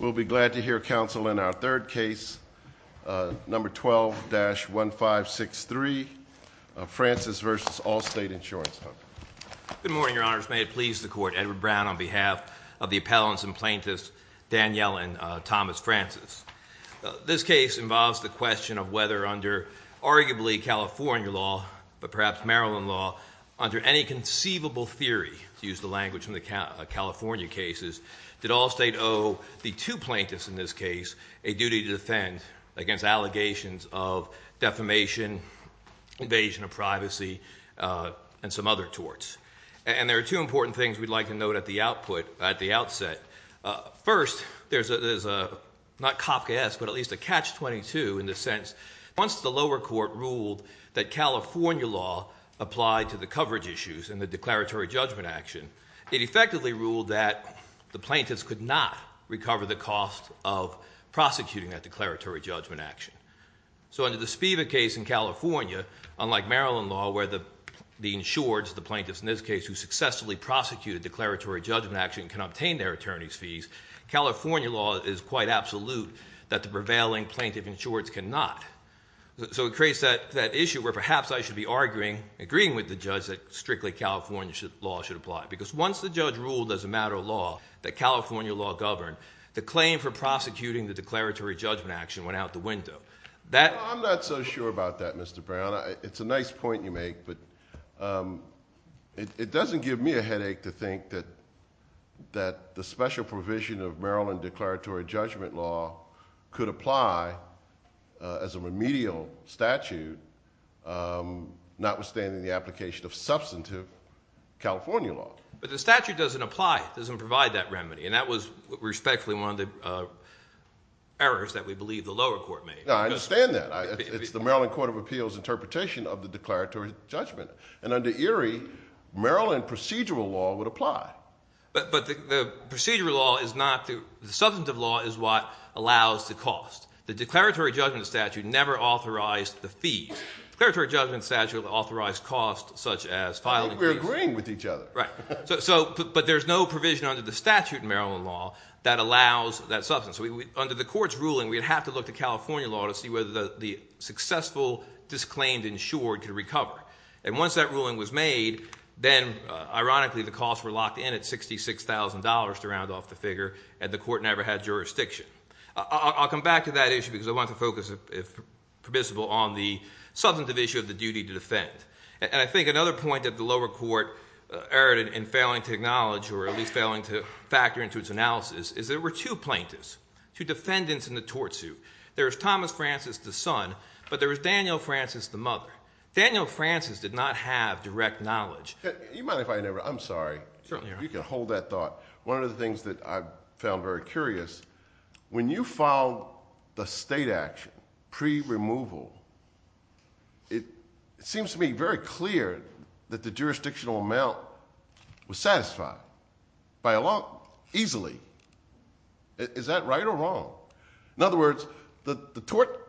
We'll be glad to hear counsel in our third case, number 12-1563, Francis v. Allstate Insurance Company. Good morning, your honors. May it please the court, Edward Brown on behalf of the appellants and plaintiffs, Danielle and Thomas Francis. This case involves the question of whether under arguably California law, but perhaps Maryland law, under any conceivable theory, to use the language from the California cases, did Allstate owe the two plaintiffs in this case a duty to defend against allegations of defamation, invasion of privacy, and some other torts. And there are two important things we'd like to note at the outset. First, there's a, not cop gas, but at least a catch-22 in the sense, once the lower court ruled that California law applied to the coverage issues and the declaratory judgment action, it effectively ruled that the plaintiffs could not recover the cost of prosecuting that declaratory judgment action. So under the Spiva case in California, unlike Maryland law, where the insureds, the plaintiffs in this case, who successfully prosecuted declaratory judgment action can obtain their attorney's fees, California law is quite absolute that the prevailing plaintiff insureds cannot. So it creates that issue where perhaps I should be arguing, agreeing with the judge that strictly California law should apply. Because once the judge ruled as a matter of law that California law governed, the claim for prosecuting the declaratory judgment action went out the window. I'm not so sure about that, Mr. Brown. It's a nice point you make, but it doesn't give me a headache to think that the special provision of Maryland declaratory judgment law could apply as a remedial statute, notwithstanding the application of substantive California law. But the statute doesn't apply. It doesn't provide that remedy. And that was respectfully one of the errors that we believe the lower court made. No, I understand that. It's the Maryland Court of Appeals interpretation of the declaratory judgment. And under Erie, Maryland procedural law would apply. But the procedural law is not—the substantive law is what allows the cost. The declaratory judgment statute never authorized the fees. The declaratory judgment statute authorized costs such as filing— I think we're agreeing with each other. Right. But there's no provision under the statute in Maryland law that allows that substance. Under the court's ruling, we'd have to look to California law to see whether the successful disclaimed insured could recover. And once that ruling was made, then ironically the costs were locked in at $66,000 to round off the figure, and the court never had jurisdiction. I'll come back to that issue because I want to focus, if permissible, on the substantive issue of the duty to defend. And I think another point that the lower court erred in failing to acknowledge, or at least failing to factor into its analysis, is there were two plaintiffs, two defendants in the tort suit. There was Thomas Francis, the son, but there was Daniel Francis, the mother. Daniel Francis did not have direct knowledge. You mind if I interrupt? I'm sorry. Certainly. You can hold that thought. One of the things that I found very curious, when you filed the state action pre-removal, it seems to me very clear that the jurisdictional amount was satisfied by a law—easily. Is that right or wrong? In other words, the tort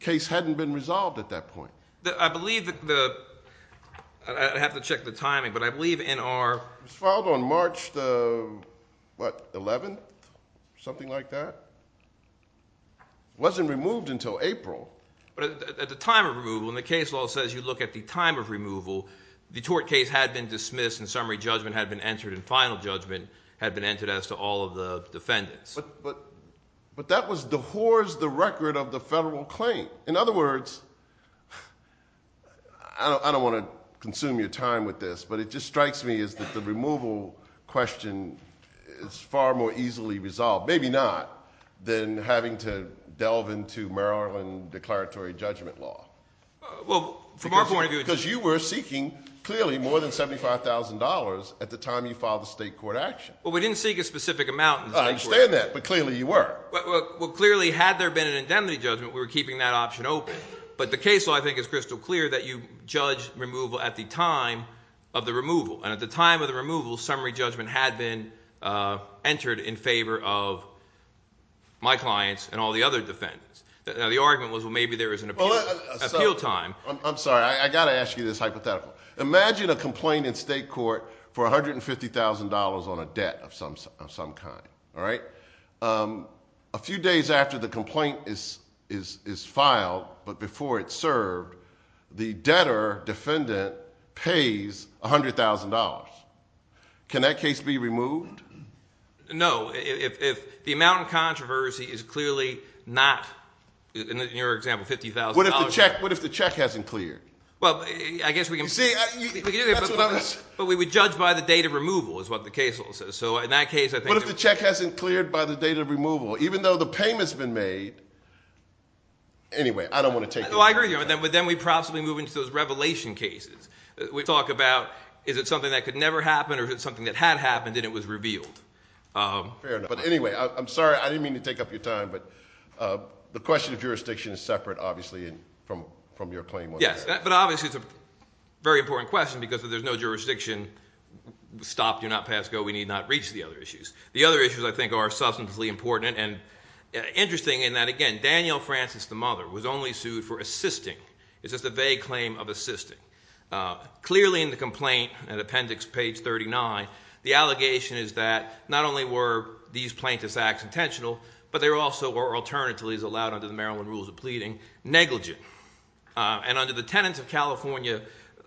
case hadn't been resolved at that point. I believe that the—I'd have to check the timing, but I believe in our— It was filed on March the, what, 11th, something like that? It wasn't removed until April. But at the time of removal, when the case law says you look at the time of removal, the tort case had been dismissed and summary judgment had been entered, and final judgment had been entered as to all of the defendants. But that was—dehorsed the record of the federal claim. In other words, I don't want to consume your time with this, but it just strikes me as that the removal question is far more easily resolved, maybe not, than having to delve into Maryland declaratory judgment law. Well, from our point of view— Because you were seeking, clearly, more than $75,000 at the time you filed the state court action. Well, we didn't seek a specific amount. I understand that, but clearly you were. Well, clearly, had there been an indemnity judgment, we were keeping that option open. But the case law, I think, is crystal clear that you judged removal at the time of the removal. And at the time of the removal, summary judgment had been entered in favor of my clients and all the other defendants. Now, the argument was, well, maybe there was an appeal time. I'm sorry. I've got to ask you this hypothetical. Imagine a complaint in state court for $150,000 on a debt of some kind. A few days after the complaint is filed, but before it's served, the debtor defendant pays $100,000. Can that case be removed? No. If the amount of controversy is clearly not, in your example, $50,000— What if the check hasn't cleared? Well, I guess we can— You see, that's what I'm— But we judge by the date of removal, is what the case law says. So in that case, I think— What if the check hasn't cleared by the date of removal, even though the payment's been made? Anyway, I don't want to take— Well, I agree with you. But then we possibly move into those revelation cases. We talk about, is it something that could never happen, or is it something that had happened and it was revealed? Fair enough. But anyway, I'm sorry. I didn't mean to take up your time, but the question of jurisdiction is separate, obviously, from your claim. Yes, but obviously it's a very important question because if there's no jurisdiction, stop, do not pass, go, we need not reach the other issues. The other issues, I think, are substantively important and interesting in that, again, Daniel Francis, the mother, was only sued for assisting. It's just a vague claim of assisting. Clearly in the complaint, in appendix page 39, the allegation is that not only were these plaintiffs' acts intentional, but they also were alternatively, as allowed under the Maryland rules of pleading, negligent. And under the Tenants of California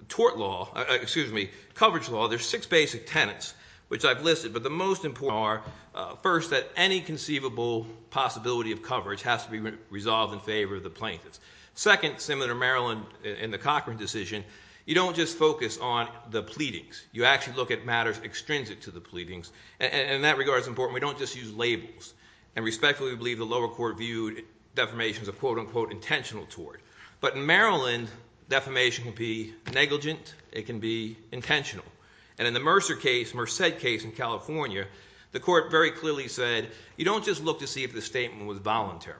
Tort Law—excuse me, Coverage Law, there's six basic tenets, which I've listed. But the most important are, first, that any conceivable possibility of coverage has to be resolved in favor of the plaintiffs. Second, similar to Maryland in the Cochran decision, you don't just focus on the pleadings. You actually look at matters extrinsic to the pleadings. And in that regard, it's important we don't just use labels. And respectfully, we believe the lower court viewed defamation as a quote-unquote intentional tort. But in Maryland, defamation can be negligent. It can be intentional. And in the Mercer case, Merced case in California, the court very clearly said, you don't just look to see if the statement was voluntary.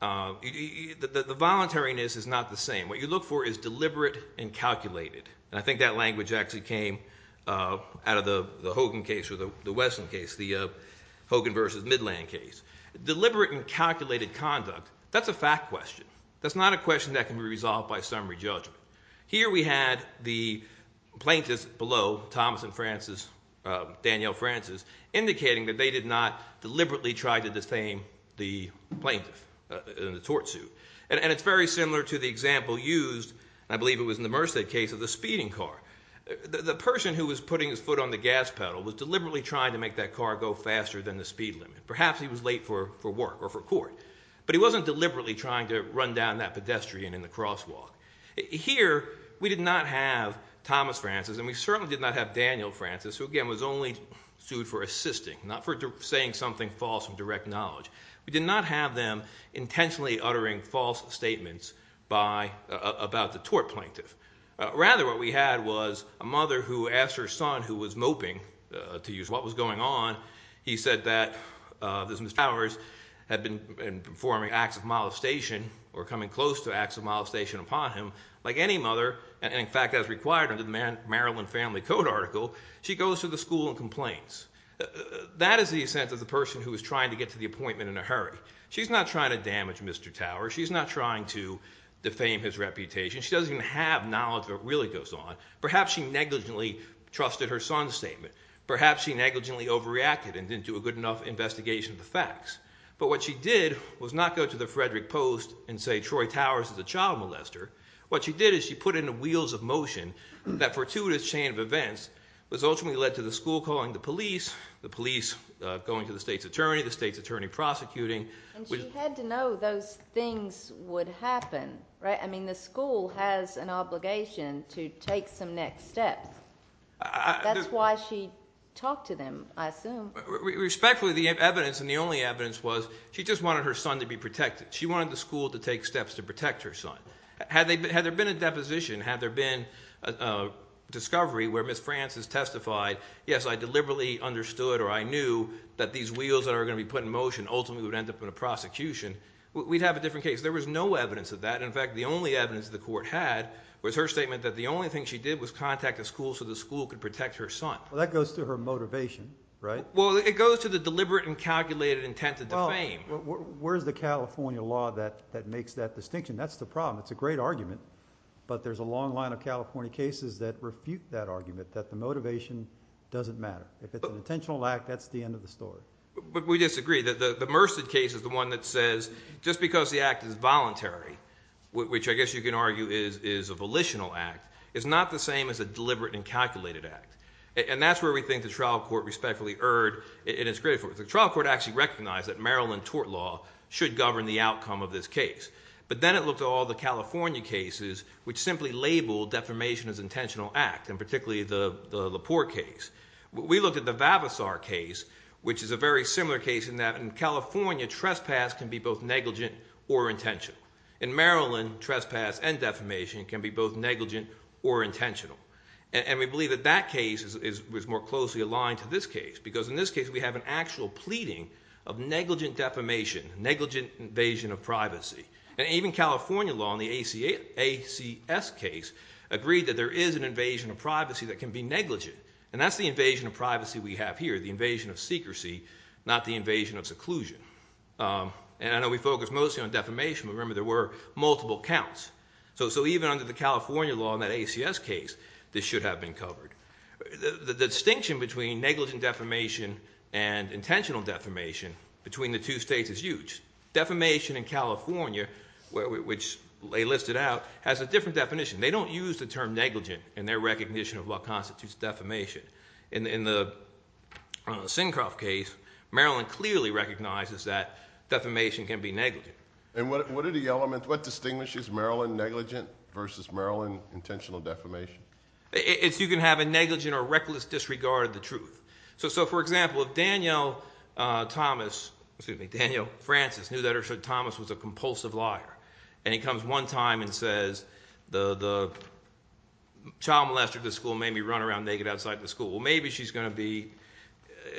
The voluntariness is not the same. What you look for is deliberate and calculated. And I think that language actually came out of the Hogan case or the Wesson case, the Hogan v. Midland case. Deliberate and calculated conduct, that's a fact question. That's not a question that can be resolved by summary judgment. Here we had the plaintiffs below, Thomas and Francis, Danielle Francis, indicating that they did not deliberately try to defame the plaintiff in the tort suit. And it's very similar to the example used, I believe it was in the Merced case, of the speeding car. The person who was putting his foot on the gas pedal was deliberately trying to make that car go faster than the speed limit. Perhaps he was late for work or for court. But he wasn't deliberately trying to run down that pedestrian in the crosswalk. Here we did not have Thomas Francis, and we certainly did not have Danielle Francis, who again was only sued for assisting, not for saying something false with direct knowledge. We did not have them intentionally uttering false statements about the tort plaintiff. Rather what we had was a mother who asked her son who was moping to use what was going on. He said that Mrs. Towers had been performing acts of molestation or coming close to acts of molestation upon him. Like any mother, and in fact as required under the Maryland Family Code article, she goes to the school and complains. That is the sense of the person who is trying to get to the appointment in a hurry. She's not trying to damage Mr. Towers. She's not trying to defame his reputation. She doesn't even have knowledge of what really goes on. Perhaps she negligently trusted her son's statement. Perhaps she negligently overreacted and didn't do a good enough investigation of the facts. But what she did was not go to the Frederick Post and say Troy Towers is a child molester. What she did is she put in the wheels of motion that fortuitous chain of events was ultimately led to the school calling the police, the police going to the state's attorney, the state's attorney prosecuting. And she had to know those things would happen. I mean the school has an obligation to take some next steps. That's why she talked to them, I assume. Respectfully, the evidence and the only evidence was she just wanted her son to be protected. She wanted the school to take steps to protect her son. Had there been a deposition, had there been a discovery where Ms. Francis testified, yes, I deliberately understood or I knew that these wheels that are going to be put in motion ultimately would end up in a prosecution, we'd have a different case. There was no evidence of that. In fact, the only evidence the court had was her statement that the only thing she did was contact the school so the school could protect her son. Well, that goes to her motivation, right? Well, it goes to the deliberate and calculated intent to defame. Well, where's the California law that makes that distinction? That's the problem. It's a great argument. But there's a long line of California cases that refute that argument, that the motivation doesn't matter. If it's an intentional act, that's the end of the story. But we disagree. The Merced case is the one that says just because the act is voluntary, which I guess you can argue is a volitional act, is not the same as a deliberate and calculated act. And that's where we think the trial court respectfully erred and is grateful. The trial court actually recognized that Maryland tort law should govern the outcome of this case. But then it looked at all the California cases, which simply labeled defamation as intentional act, and particularly the Laporte case. We looked at the Vavasar case, which is a very similar case in that in California, trespass can be both negligent or intentional. In Maryland, trespass and defamation can be both negligent or intentional. And we believe that that case was more closely aligned to this case because in this case we have an actual pleading of negligent defamation, negligent invasion of privacy. And even California law in the ACS case agreed that there is an invasion of privacy that can be negligent. And that's the invasion of privacy we have here, the invasion of secrecy, not the invasion of seclusion. And I know we focus mostly on defamation. Remember, there were multiple counts. So even under the California law in that ACS case, this should have been covered. The distinction between negligent defamation and intentional defamation between the two states is huge. Defamation in California, which they listed out, has a different definition. They don't use the term negligent in their recognition of what constitutes defamation. In the Sinkoff case, Maryland clearly recognizes that defamation can be negligent. And what are the elements, what distinguishes Maryland negligent versus Maryland intentional defamation? You can have a negligent or reckless disregard of the truth. So, for example, if Daniel Thomas—excuse me, Daniel Francis knew that Thomas was a compulsive liar, and he comes one time and says the child molester at the school made me run around naked outside the school. Well, maybe she's going to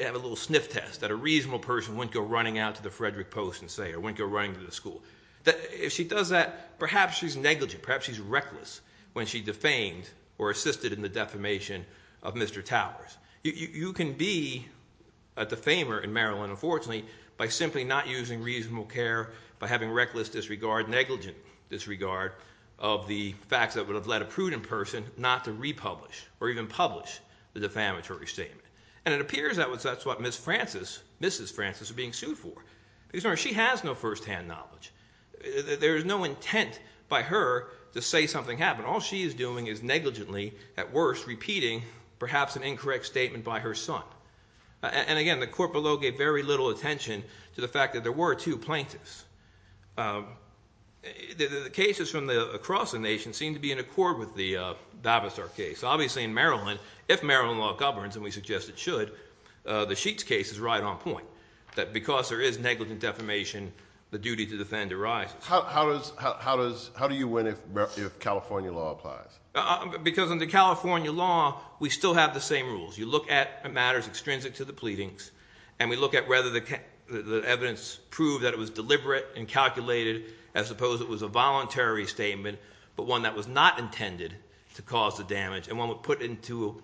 have a little sniff test that a reasonable person wouldn't go running out to the Frederick Post and say or wouldn't go running to the school. If she does that, perhaps she's negligent. Perhaps she's reckless when she defamed or assisted in the defamation of Mr. Towers. You can be a defamer in Maryland, unfortunately, by simply not using reasonable care, by having reckless disregard, negligent disregard of the facts that would have led a prudent person not to republish or even publish the defamatory statement. And it appears that's what Mrs. Francis is being sued for. She has no firsthand knowledge. There is no intent by her to say something happened. All she is doing is negligently, at worst, repeating perhaps an incorrect statement by her son. And, again, the court below gave very little attention to the fact that there were two plaintiffs. The cases from across the nation seem to be in accord with the Bavasar case. Obviously, in Maryland, if Maryland law governs, and we suggest it should, the Sheets case is right on point, that because there is negligent defamation, the duty to defend arises. How do you win if California law applies? Because under California law, we still have the same rules. You look at matters extrinsic to the pleadings, and we look at whether the evidence proved that it was deliberate and calculated, as opposed to it was a voluntary statement, but one that was not intended to cause the damage, and one would put it to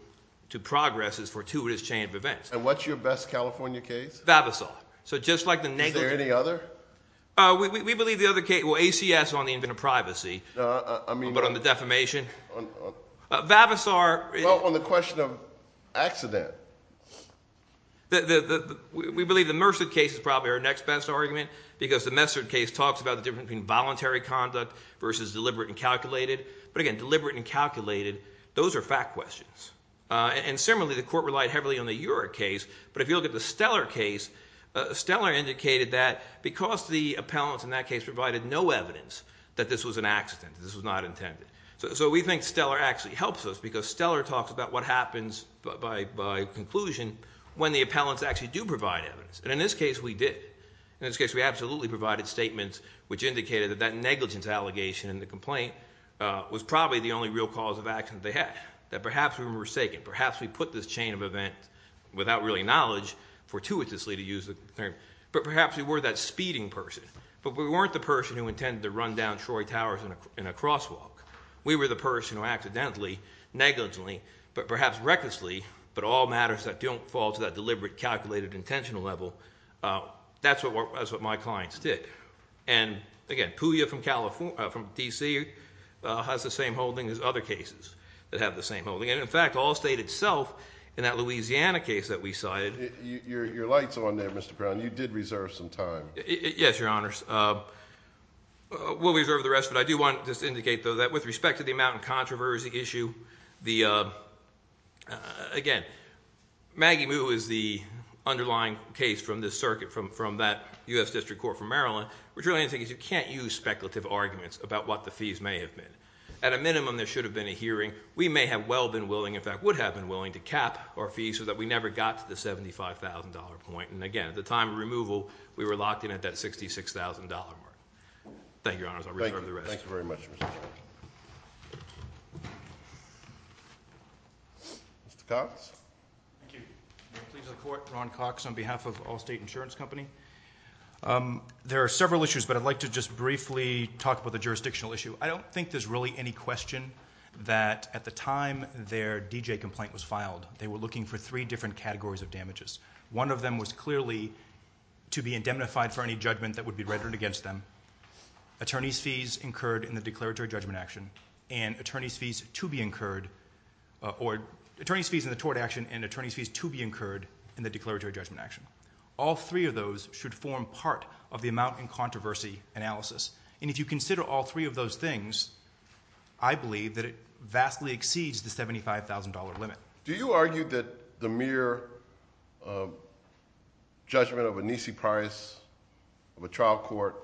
progress as fortuitous chain of events. And what's your best California case? Bavasar. So just like the negligent- Is there any other? We believe the other case, well, ACS on the invent of privacy, but on the defamation. Bavasar- Well, on the question of accident. We believe the Mercer case is probably our next best argument, because the Mercer case talks about the difference between voluntary conduct versus deliberate and calculated. But, again, deliberate and calculated, those are fact questions. And, similarly, the court relied heavily on the Eurek case, but if you look at the Steller case, Steller indicated that because the appellants in that case provided no evidence that this was an accident, this was not intended, so we think Steller actually helps us, because Steller talks about what happens by conclusion when the appellants actually do provide evidence. And in this case, we did. In this case, we absolutely provided statements which indicated that that negligence allegation in the complaint was probably the only real cause of accident they had, that perhaps we were forsaken, perhaps we put this chain of event without really knowledge, fortuitously to use the term, but perhaps we were that speeding person. But we weren't the person who intended to run down Troy Towers in a crosswalk. We were the person who accidentally, negligently, but perhaps recklessly, but all matters that don't fall to that deliberate, calculated, intentional level, that's what my clients did. And, again, Pouya from DC has the same holding as other cases that have the same holding. And, in fact, Allstate itself in that Louisiana case that we cited. Your light's on there, Mr. Brown. You did reserve some time. Yes, Your Honors. We'll reserve the rest, but I do want to just indicate, though, that with respect to the amount of controversy issue, again, Maggie Moo is the underlying case from this circuit, from that U.S. District Court from Maryland, which really I think is you can't use speculative arguments about what the fees may have been. At a minimum, there should have been a hearing. We may have well been willing, in fact, would have been willing to cap our fees so that we never got to the $75,000 point. And, again, at the time of removal, we were locked in at that $66,000 mark. Thank you, Your Honors. I'll reserve the rest. Thank you very much, Mr. Brown. Mr. Cox. Thank you. I plead the court, Ron Cox, on behalf of Allstate Insurance Company. There are several issues, but I'd like to just briefly talk about the jurisdictional issue. I don't think there's really any question that at the time their D.J. complaint was filed, they were looking for three different categories of damages. One of them was clearly to be indemnified for any judgment that would be registered against them, attorney's fees incurred in the declaratory judgment action, and attorney's fees to be incurred in the declaratory judgment action. All three of those should form part of the amount in controversy analysis. And if you consider all three of those things, I believe that it vastly exceeds the $75,000 limit. Do you argue that the mere judgment of a NISI price of a trial court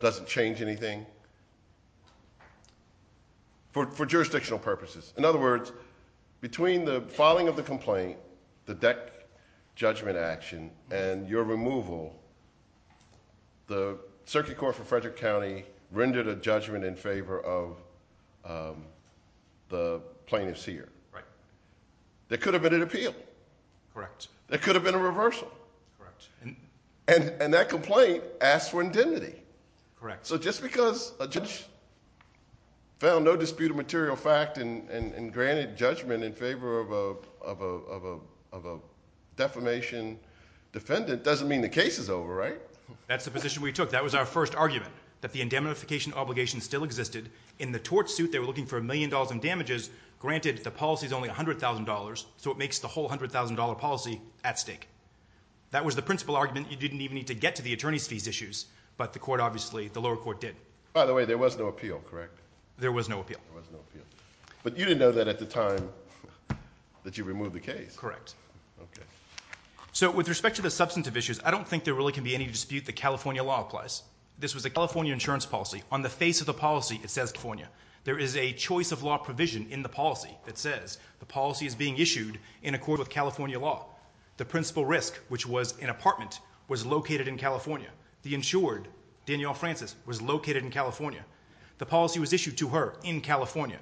doesn't change anything for jurisdictional purposes? In other words, between the filing of the complaint, the DEC judgment action, and your removal, the Circuit Court for Frederick County rendered a judgment in favor of the plaintiff's ear. Right. There could have been an appeal. Correct. There could have been a reversal. Correct. And that complaint asked for indemnity. Correct. So just because a judge found no dispute of material fact and granted judgment in favor of a defamation defendant doesn't mean the case is over, right? That's the position we took. That was our first argument, that the indemnification obligation still existed. In the tort suit, they were looking for $1 million in damages. Granted, the policy is only $100,000, so it makes the whole $100,000 policy at stake. That was the principal argument. You didn't even need to get to the attorney's fees issues, but the court obviously, the lower court did. By the way, there was no appeal, correct? There was no appeal. There was no appeal. But you didn't know that at the time that you removed the case. Correct. Okay. So with respect to the substantive issues, I don't think there really can be any dispute that California law applies. This was a California insurance policy. On the face of the policy, it says California. There is a choice of law provision in the policy that says the policy is being issued in accord with California law. The principal risk, which was an apartment, was located in California. The insured, Danielle Francis, was located in California. The policy was issued to her in California.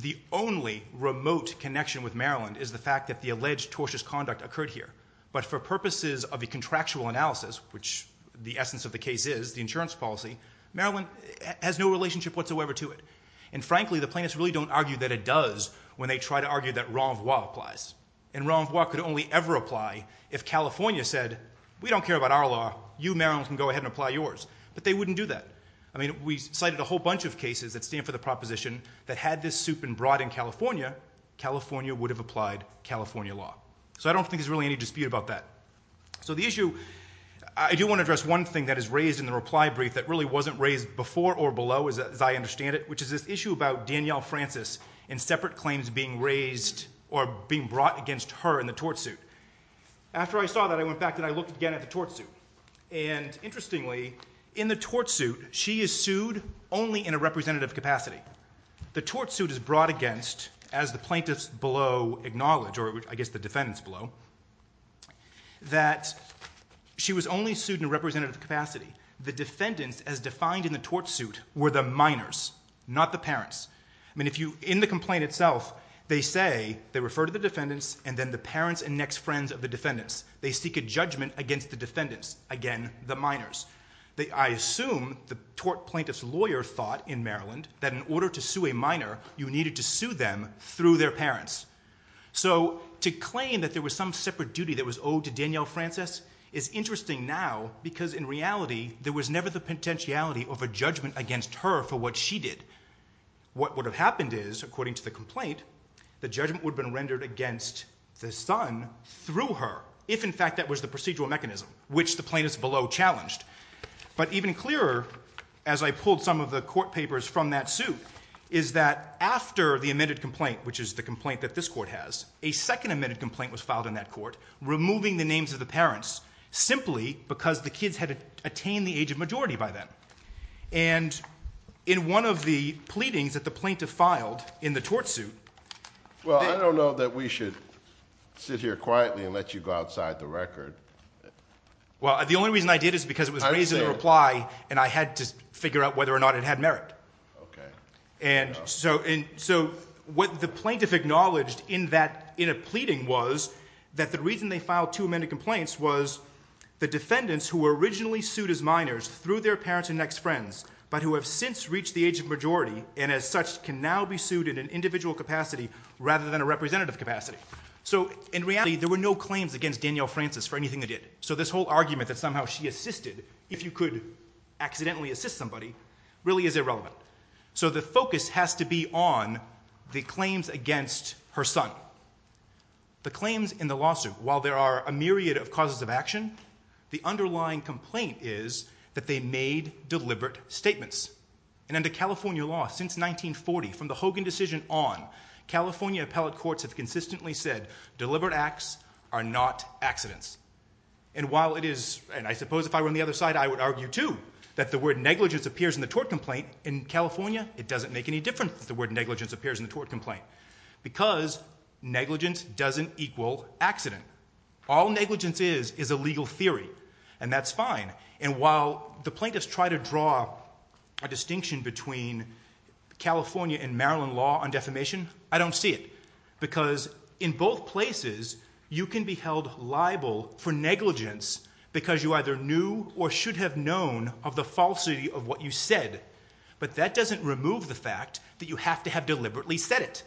The only remote connection with Maryland is the fact that the alleged tortious conduct occurred here. But for purposes of a contractual analysis, which the essence of the case is, the insurance policy, Maryland has no relationship whatsoever to it. And frankly, the plaintiffs really don't argue that it does when they try to argue that renvois applies. And renvois could only ever apply if California said, we don't care about our law. You, Maryland, can go ahead and apply yours. But they wouldn't do that. I mean, we cited a whole bunch of cases that stand for the proposition that had this suit been brought in California, California would have applied California law. So I don't think there's really any dispute about that. So the issue, I do want to address one thing that is raised in the reply brief that really wasn't raised before or below, as I understand it, which is this issue about Danielle Francis and separate claims being raised or being brought against her in the tort suit. After I saw that, I went back and I looked again at the tort suit. And interestingly, in the tort suit, she is sued only in a representative capacity. The tort suit is brought against, as the plaintiffs below acknowledge, or I guess the defendants below, that she was only sued in a representative capacity. The defendants, as defined in the tort suit, were the minors, not the parents. I mean, in the complaint itself, they say they refer to the defendants and then the parents and next friends of the defendants. They seek a judgment against the defendants, again, the minors. I assume the tort plaintiff's lawyer thought in Maryland that in order to sue a minor, you needed to sue them through their parents. So to claim that there was some separate duty that was owed to Danielle Francis is interesting now because in reality, there was never the potentiality of a judgment against her for what she did. What would have happened is, according to the complaint, the judgment would have been rendered against the son through her, if in fact that was the procedural mechanism, which the plaintiffs below challenged. But even clearer, as I pulled some of the court papers from that suit, is that after the amended complaint, which is the complaint that this court has, a second amended complaint was filed in that court, removing the names of the parents simply because the kids had attained the age of majority by then. And in one of the pleadings that the plaintiff filed in the tort suit... Well, I don't know that we should sit here quietly and let you go outside the record. Well, the only reason I did is because it was a reason to reply and I had to figure out whether or not it had merit. And so what the plaintiff acknowledged in a pleading was that the reason they filed two amended complaints was the defendants who were originally sued as minors through their parents and next friends, but who have since reached the age of majority and as such can now be sued in an individual capacity rather than a representative capacity. So in reality, there were no claims against Danielle Francis for anything they did. So this whole argument that somehow she assisted, if you could accidentally assist somebody, really is irrelevant. So the focus has to be on the claims against her son. The claims in the lawsuit, while there are a myriad of causes of action, the underlying complaint is that they made deliberate statements. And under California law, since 1940, from the Hogan decision on, California appellate courts have consistently said deliberate acts are not accidents. And while it is, and I suppose if I were on the other side, I would argue, too, that the word negligence appears in the tort complaint in California, it doesn't make any difference that the word negligence appears in the tort complaint because negligence doesn't equal accident. All negligence is is a legal theory, and that's fine. And while the plaintiffs try to draw a distinction between California and Maryland law on defamation, I don't see it because in both places you can be held liable for negligence because you either knew or should have known of the falsity of what you said. But that doesn't remove the fact that you have to have deliberately said it.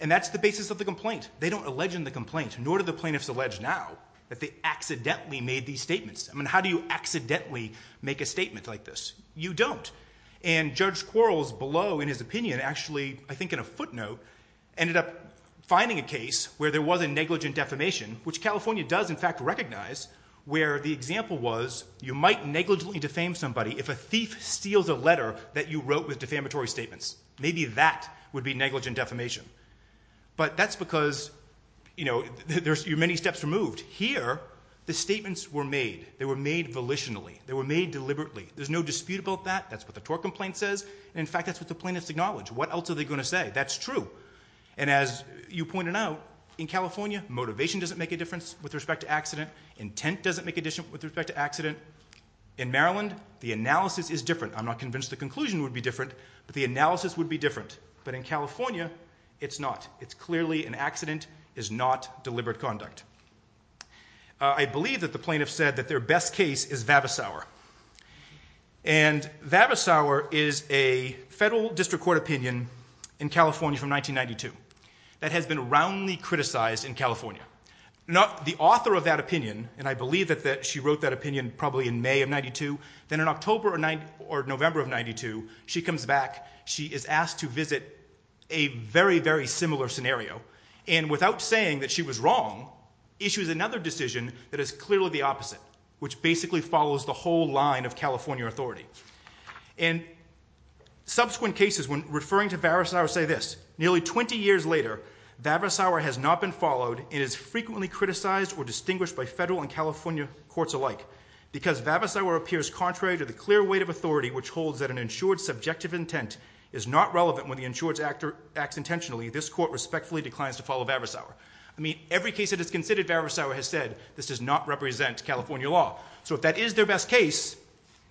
And that's the basis of the complaint. They don't allege in the complaint, nor do the plaintiffs allege now, that they accidentally made these statements. I mean, how do you accidentally make a statement like this? You don't. And Judge Quarles below in his opinion actually, I think in a footnote, ended up finding a case where there was a negligent defamation, which California does in fact recognize, where the example was you might negligently defame somebody if a thief steals a letter that you wrote with defamatory statements. Maybe that would be negligent defamation. But that's because, you know, your many steps were moved. Here, the statements were made. They were made volitionally. They were made deliberately. There's no dispute about that. That's what the tort complaint says. In fact, that's what the plaintiffs acknowledge. What else are they going to say? That's true. And as you pointed out, in California, motivation doesn't make a difference with respect to accident. Intent doesn't make a difference with respect to accident. In Maryland, the analysis is different. I'm not convinced the conclusion would be different, but the analysis would be different. But in California, it's not. It's clearly an accident. It's not deliberate conduct. I believe that the plaintiffs said that their best case is Vavasour. And Vavasour is a federal district court opinion in California from 1992 that has been roundly criticized in California. The author of that opinion, and I believe that she wrote that opinion probably in May of 92, then in October or November of 92, she comes back. She is asked to visit a very, very similar scenario, and without saying that she was wrong, issues another decision that is clearly the opposite, which basically follows the whole line of California authority. And subsequent cases, when referring to Vavasour, say this. Nearly 20 years later, Vavasour has not been followed and is frequently criticized or distinguished by federal and California courts alike because Vavasour appears contrary to the clear weight of authority which holds that an insured subjective intent is not relevant when the insured acts intentionally. This court respectfully declines to follow Vavasour. I mean, every case that is considered Vavasour has said, this does not represent California law. So if that is their best case,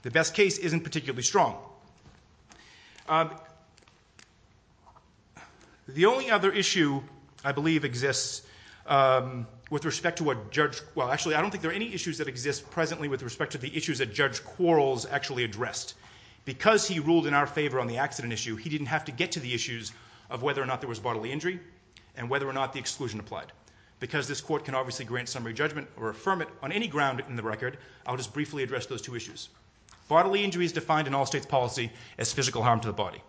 the best case isn't particularly strong. The only other issue I believe exists with respect to what Judge... Well, actually, I don't think there are any issues that exist presently with respect to the issues that Judge Quarles actually addressed. Because he ruled in our favor on the accident issue, he didn't have to get to the issues of whether or not there was bodily injury and whether or not the exclusion applied. Because this court can obviously grant summary judgment or affirm it on any ground in the record, I'll just briefly address those two issues. Bodily injury is defined in all states' policy as physical harm to the body.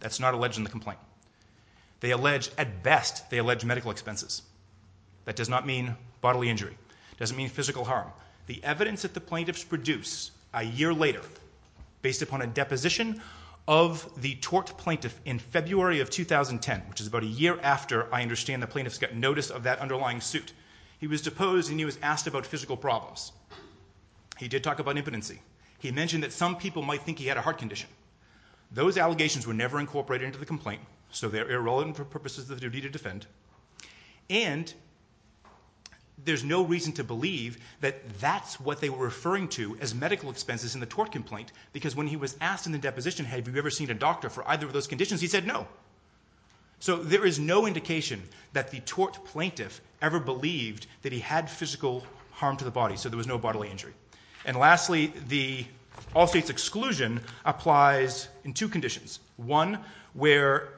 That's not alleged in the complaint. At best, they allege medical expenses. That does not mean bodily injury. It doesn't mean physical harm. The evidence that the plaintiffs produce a year later, based upon a deposition of the tort plaintiff in February of 2010, which is about a year after, I understand, the plaintiffs got notice of that underlying suit, he was deposed and he was asked about physical problems. He did talk about impotency. He mentioned that some people might think he had a heart condition. Those allegations were never incorporated into the complaint, so they're irrelevant for purposes of the duty to defend. And there's no reason to believe that that's what they were referring to as medical expenses in the tort complaint, because when he was asked in the deposition, have you ever seen a doctor for either of those conditions, he said no. So there is no indication that the tort plaintiff ever believed that he had physical harm to the body, so there was no bodily injury. And lastly, the all states' exclusion applies in two conditions. One, where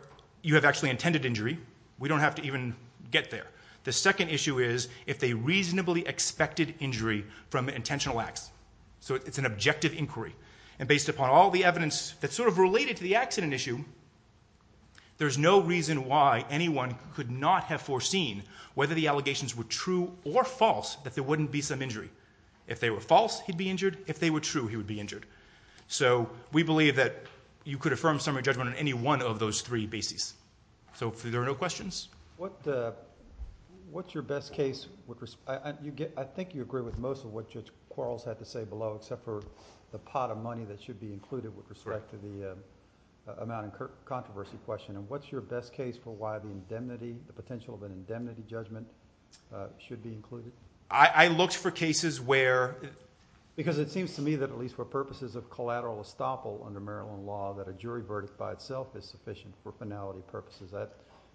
you have actually intended injury. We don't have to even get there. The second issue is if they reasonably expected injury from intentional acts. So it's an objective inquiry, and based upon all the evidence that's sort of related to the accident issue, there's no reason why anyone could not have foreseen whether the allegations were true or false, that there wouldn't be some injury. If they were false, he'd be injured. If they were true, he would be injured. So we believe that you could affirm summary judgment on any one of those three bases. So are there no questions? What's your best case? I think you agree with most of what Judge Quarles had to say below, except for the pot of money that should be included with respect to the amount of controversy question. And what's your best case for why the potential of an indemnity judgment should be included? I looked for cases where... Because it seems to me that at least for purposes of collateral estoppel under Maryland law, that a jury verdict by itself is sufficient for finality purposes,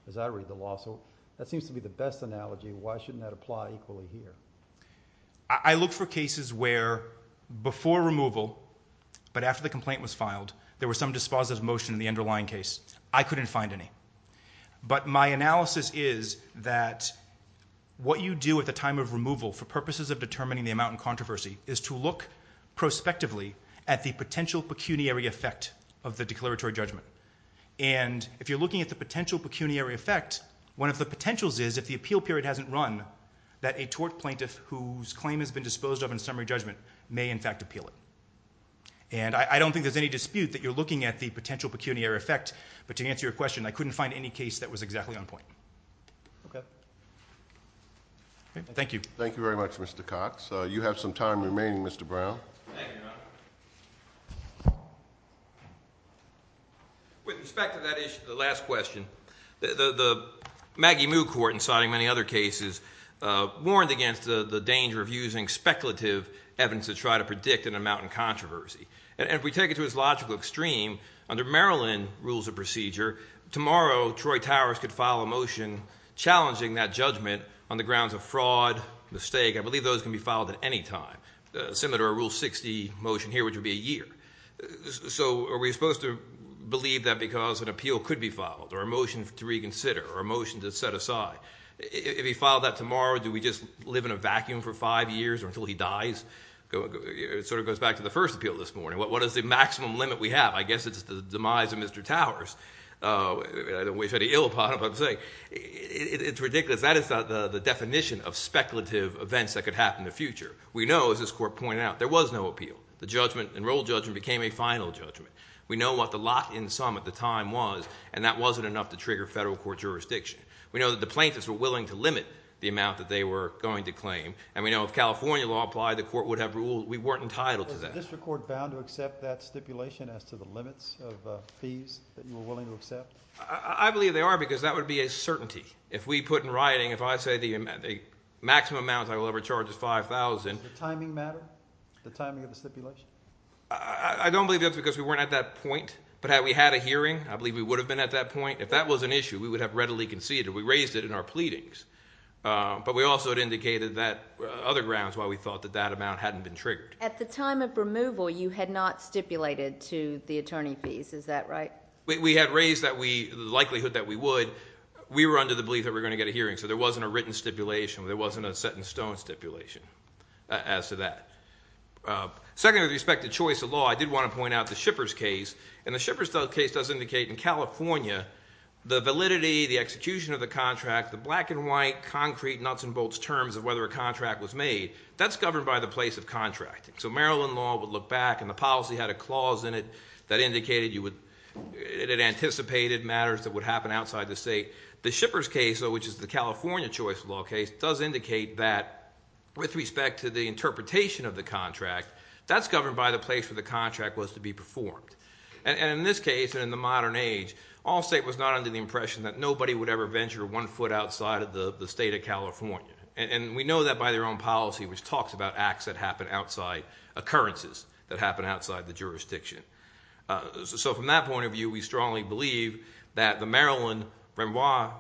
as I read the law. So that seems to be the best analogy. Why shouldn't that apply equally here? I look for cases where before removal, but after the complaint was filed, there was some dispositive motion in the underlying case. I couldn't find any. But my analysis is that what you do at the time of removal for purposes of determining the amount in controversy is to look prospectively at the potential pecuniary effect of the declaratory judgment. And if you're looking at the potential pecuniary effect, one of the potentials is if the appeal period hasn't run, that a tort plaintiff whose claim has been disposed of in summary judgment may in fact appeal it. And I don't think there's any dispute that you're looking at the potential pecuniary effect, but to answer your question, I couldn't find any case that was exactly on point. Okay. Thank you. Thank you very much, Mr. Cox. You have some time remaining, Mr. Brown. Thank you, Your Honor. With respect to that issue, the last question, the Maggie Moo Court, in citing many other cases, warned against the danger of using speculative evidence to try to predict an amount in controversy. And if we take it to its logical extreme, under Maryland rules of procedure, tomorrow Troy Towers could file a motion challenging that judgment on the grounds of fraud, mistake. I believe those can be filed at any time. Similar to our Rule 60 motion here, which would be a year. So are we supposed to believe that because an appeal could be filed or a motion to reconsider or a motion to set aside? If he filed that tomorrow, do we just live in a vacuum for five years or until he dies? It sort of goes back to the first appeal this morning. What is the maximum limit we have? I guess it's the demise of Mr. Towers. I don't wish any ill upon him, I'm saying. It's ridiculous. That is the definition of speculative events that could happen in the future. We know, as this court pointed out, there was no appeal. The enrolled judgment became a final judgment. We know what the lock-in sum at the time was, and that wasn't enough to trigger federal court jurisdiction. We know that the plaintiffs were willing to limit the amount that they were going to claim, and we know if California law applied, the court would have ruled we weren't entitled to that. Is the district court bound to accept that stipulation as to the limits of fees that you were willing to accept? I believe they are because that would be a certainty. If we put in writing, if I say the maximum amount I will ever charge is $5,000. Does the timing matter, the timing of the stipulation? I don't believe that's because we weren't at that point. But had we had a hearing, I believe we would have been at that point. If that was an issue, we would have readily conceded. We raised it in our pleadings. But we also had indicated that other grounds why we thought that that amount hadn't been triggered. At the time of removal, you had not stipulated to the attorney fees. Is that right? We had raised the likelihood that we would. We were under the belief that we were going to get a hearing, so there wasn't a written stipulation. There wasn't a set-in-stone stipulation as to that. Secondly, with respect to choice of law, I did want to point out the Shippers case. The Shippers case does indicate in California the validity, the execution of the contract, the black-and-white, concrete, nuts-and-bolts terms of whether a contract was made, that's governed by the place of contracting. So Maryland law would look back, and the policy had a clause in it that indicated it anticipated matters that would happen outside the state. The Shippers case, though, which is the California choice of law case, does indicate that with respect to the interpretation of the contract, that's governed by the place where the contract was to be performed. And in this case, in the modern age, all state was not under the impression that nobody would ever venture one foot outside of the state of California. And we know that by their own policy, which talks about acts that happen outside, occurrences that happen outside the jurisdiction. So from that point of view, we strongly believe that the Maryland-Renoir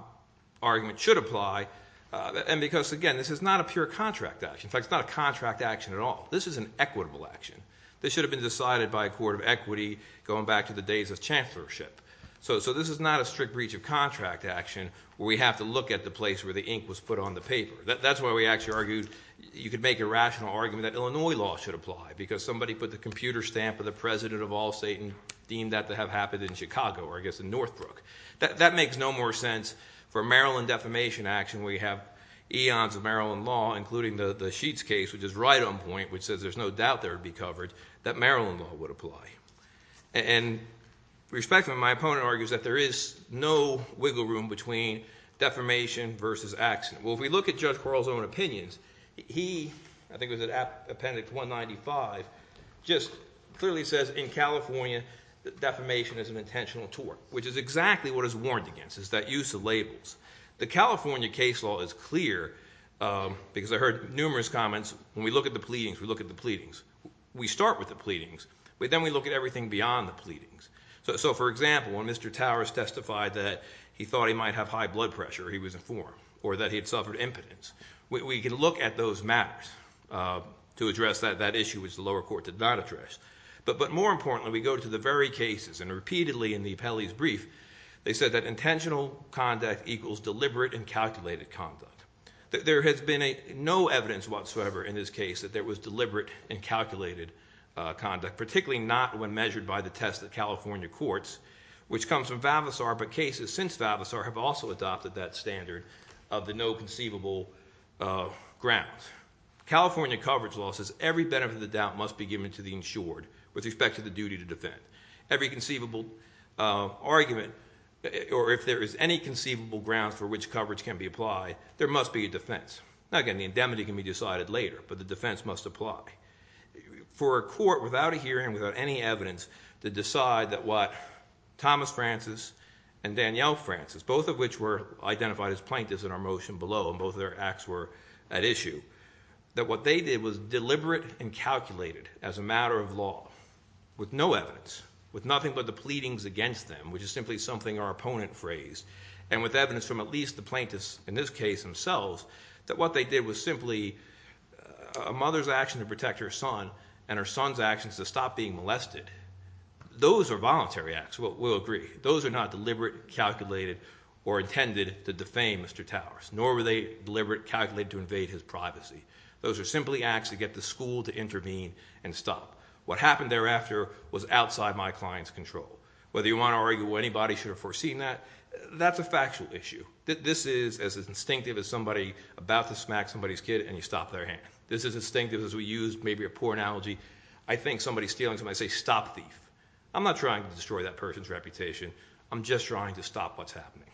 argument should apply. And because, again, this is not a pure contract action. In fact, it's not a contract action at all. This is an equitable action. This should have been decided by a court of equity going back to the days of chancellorship. So this is not a strict breach of contract action where we have to look at the place where the ink was put on the paper. That's why we actually argued you could make a rational argument that Illinois law should apply, because somebody put the computer stamp of the president of all state and deemed that to have happened in Chicago or, I guess, in Northbrook. That makes no more sense. For Maryland defamation action, we have eons of Maryland law, including the Sheets case, which is right on point, which says there's no doubt there would be coverage that Maryland law would apply. And respectfully, my opponent argues that there is no wiggle room between defamation versus accident. Well, if we look at Judge Quarles' own opinions, he, I think it was at appendix 195, just clearly says in California that defamation is an intentional tort, which is exactly what it's warned against, is that use of labels. The California case law is clear, because I heard numerous comments, when we look at the pleadings, we look at the pleadings. We start with the pleadings, but then we look at everything beyond the pleadings. So, for example, when Mr. Towers testified that he thought he might have high blood pressure, or he was informed, or that he had suffered impotence, we can look at those matters to address that issue, which the lower court did not address. But more importantly, we go to the very cases, and repeatedly in the appellee's brief, they said that intentional conduct equals deliberate and calculated conduct. There has been no evidence whatsoever in this case that there was deliberate and calculated conduct, particularly not when measured by the test of California courts, which comes from Vavasor, but cases since Vavasor have also adopted that standard of the no conceivable grounds. California coverage law says every benefit of the doubt must be given to the insured with respect to the duty to defend. Every conceivable argument, or if there is any conceivable grounds for which coverage can be applied, there must be a defense. Again, the indemnity can be decided later, but the defense must apply. For a court, without a hearing, without any evidence, to decide that what Thomas Francis and Danielle Francis, both of which were identified as plaintiffs in our motion below, and both of their acts were at issue, that what they did was deliberate and calculated as a matter of law with no evidence, with nothing but the pleadings against them, which is simply something our opponent phrased, and with evidence from at least the plaintiffs in this case themselves, that what they did was simply a mother's action to protect her son and her son's actions to stop being molested. Those are voluntary acts. We'll agree. Those are not deliberate, calculated, or intended to defame Mr. Towers, nor were they deliberate, calculated to invade his privacy. Those are simply acts to get the school to intervene and stop. What happened thereafter was outside my client's control. Whether you want to argue anybody should have foreseen that, that's a factual issue. This is as instinctive as somebody about to smack somebody's kid and you stop their hand. This is instinctive as we use maybe a poor analogy. I think somebody stealing somebody's kid, I say, stop thief. I'm not trying to destroy that person's reputation. I'm just trying to stop what's happening.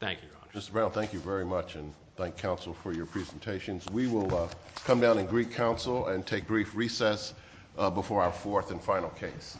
Thank you, Your Honor. Mr. Brown, thank you very much, and thank counsel for your presentations. We will come down and greet counsel and take brief recess before our fourth and final case.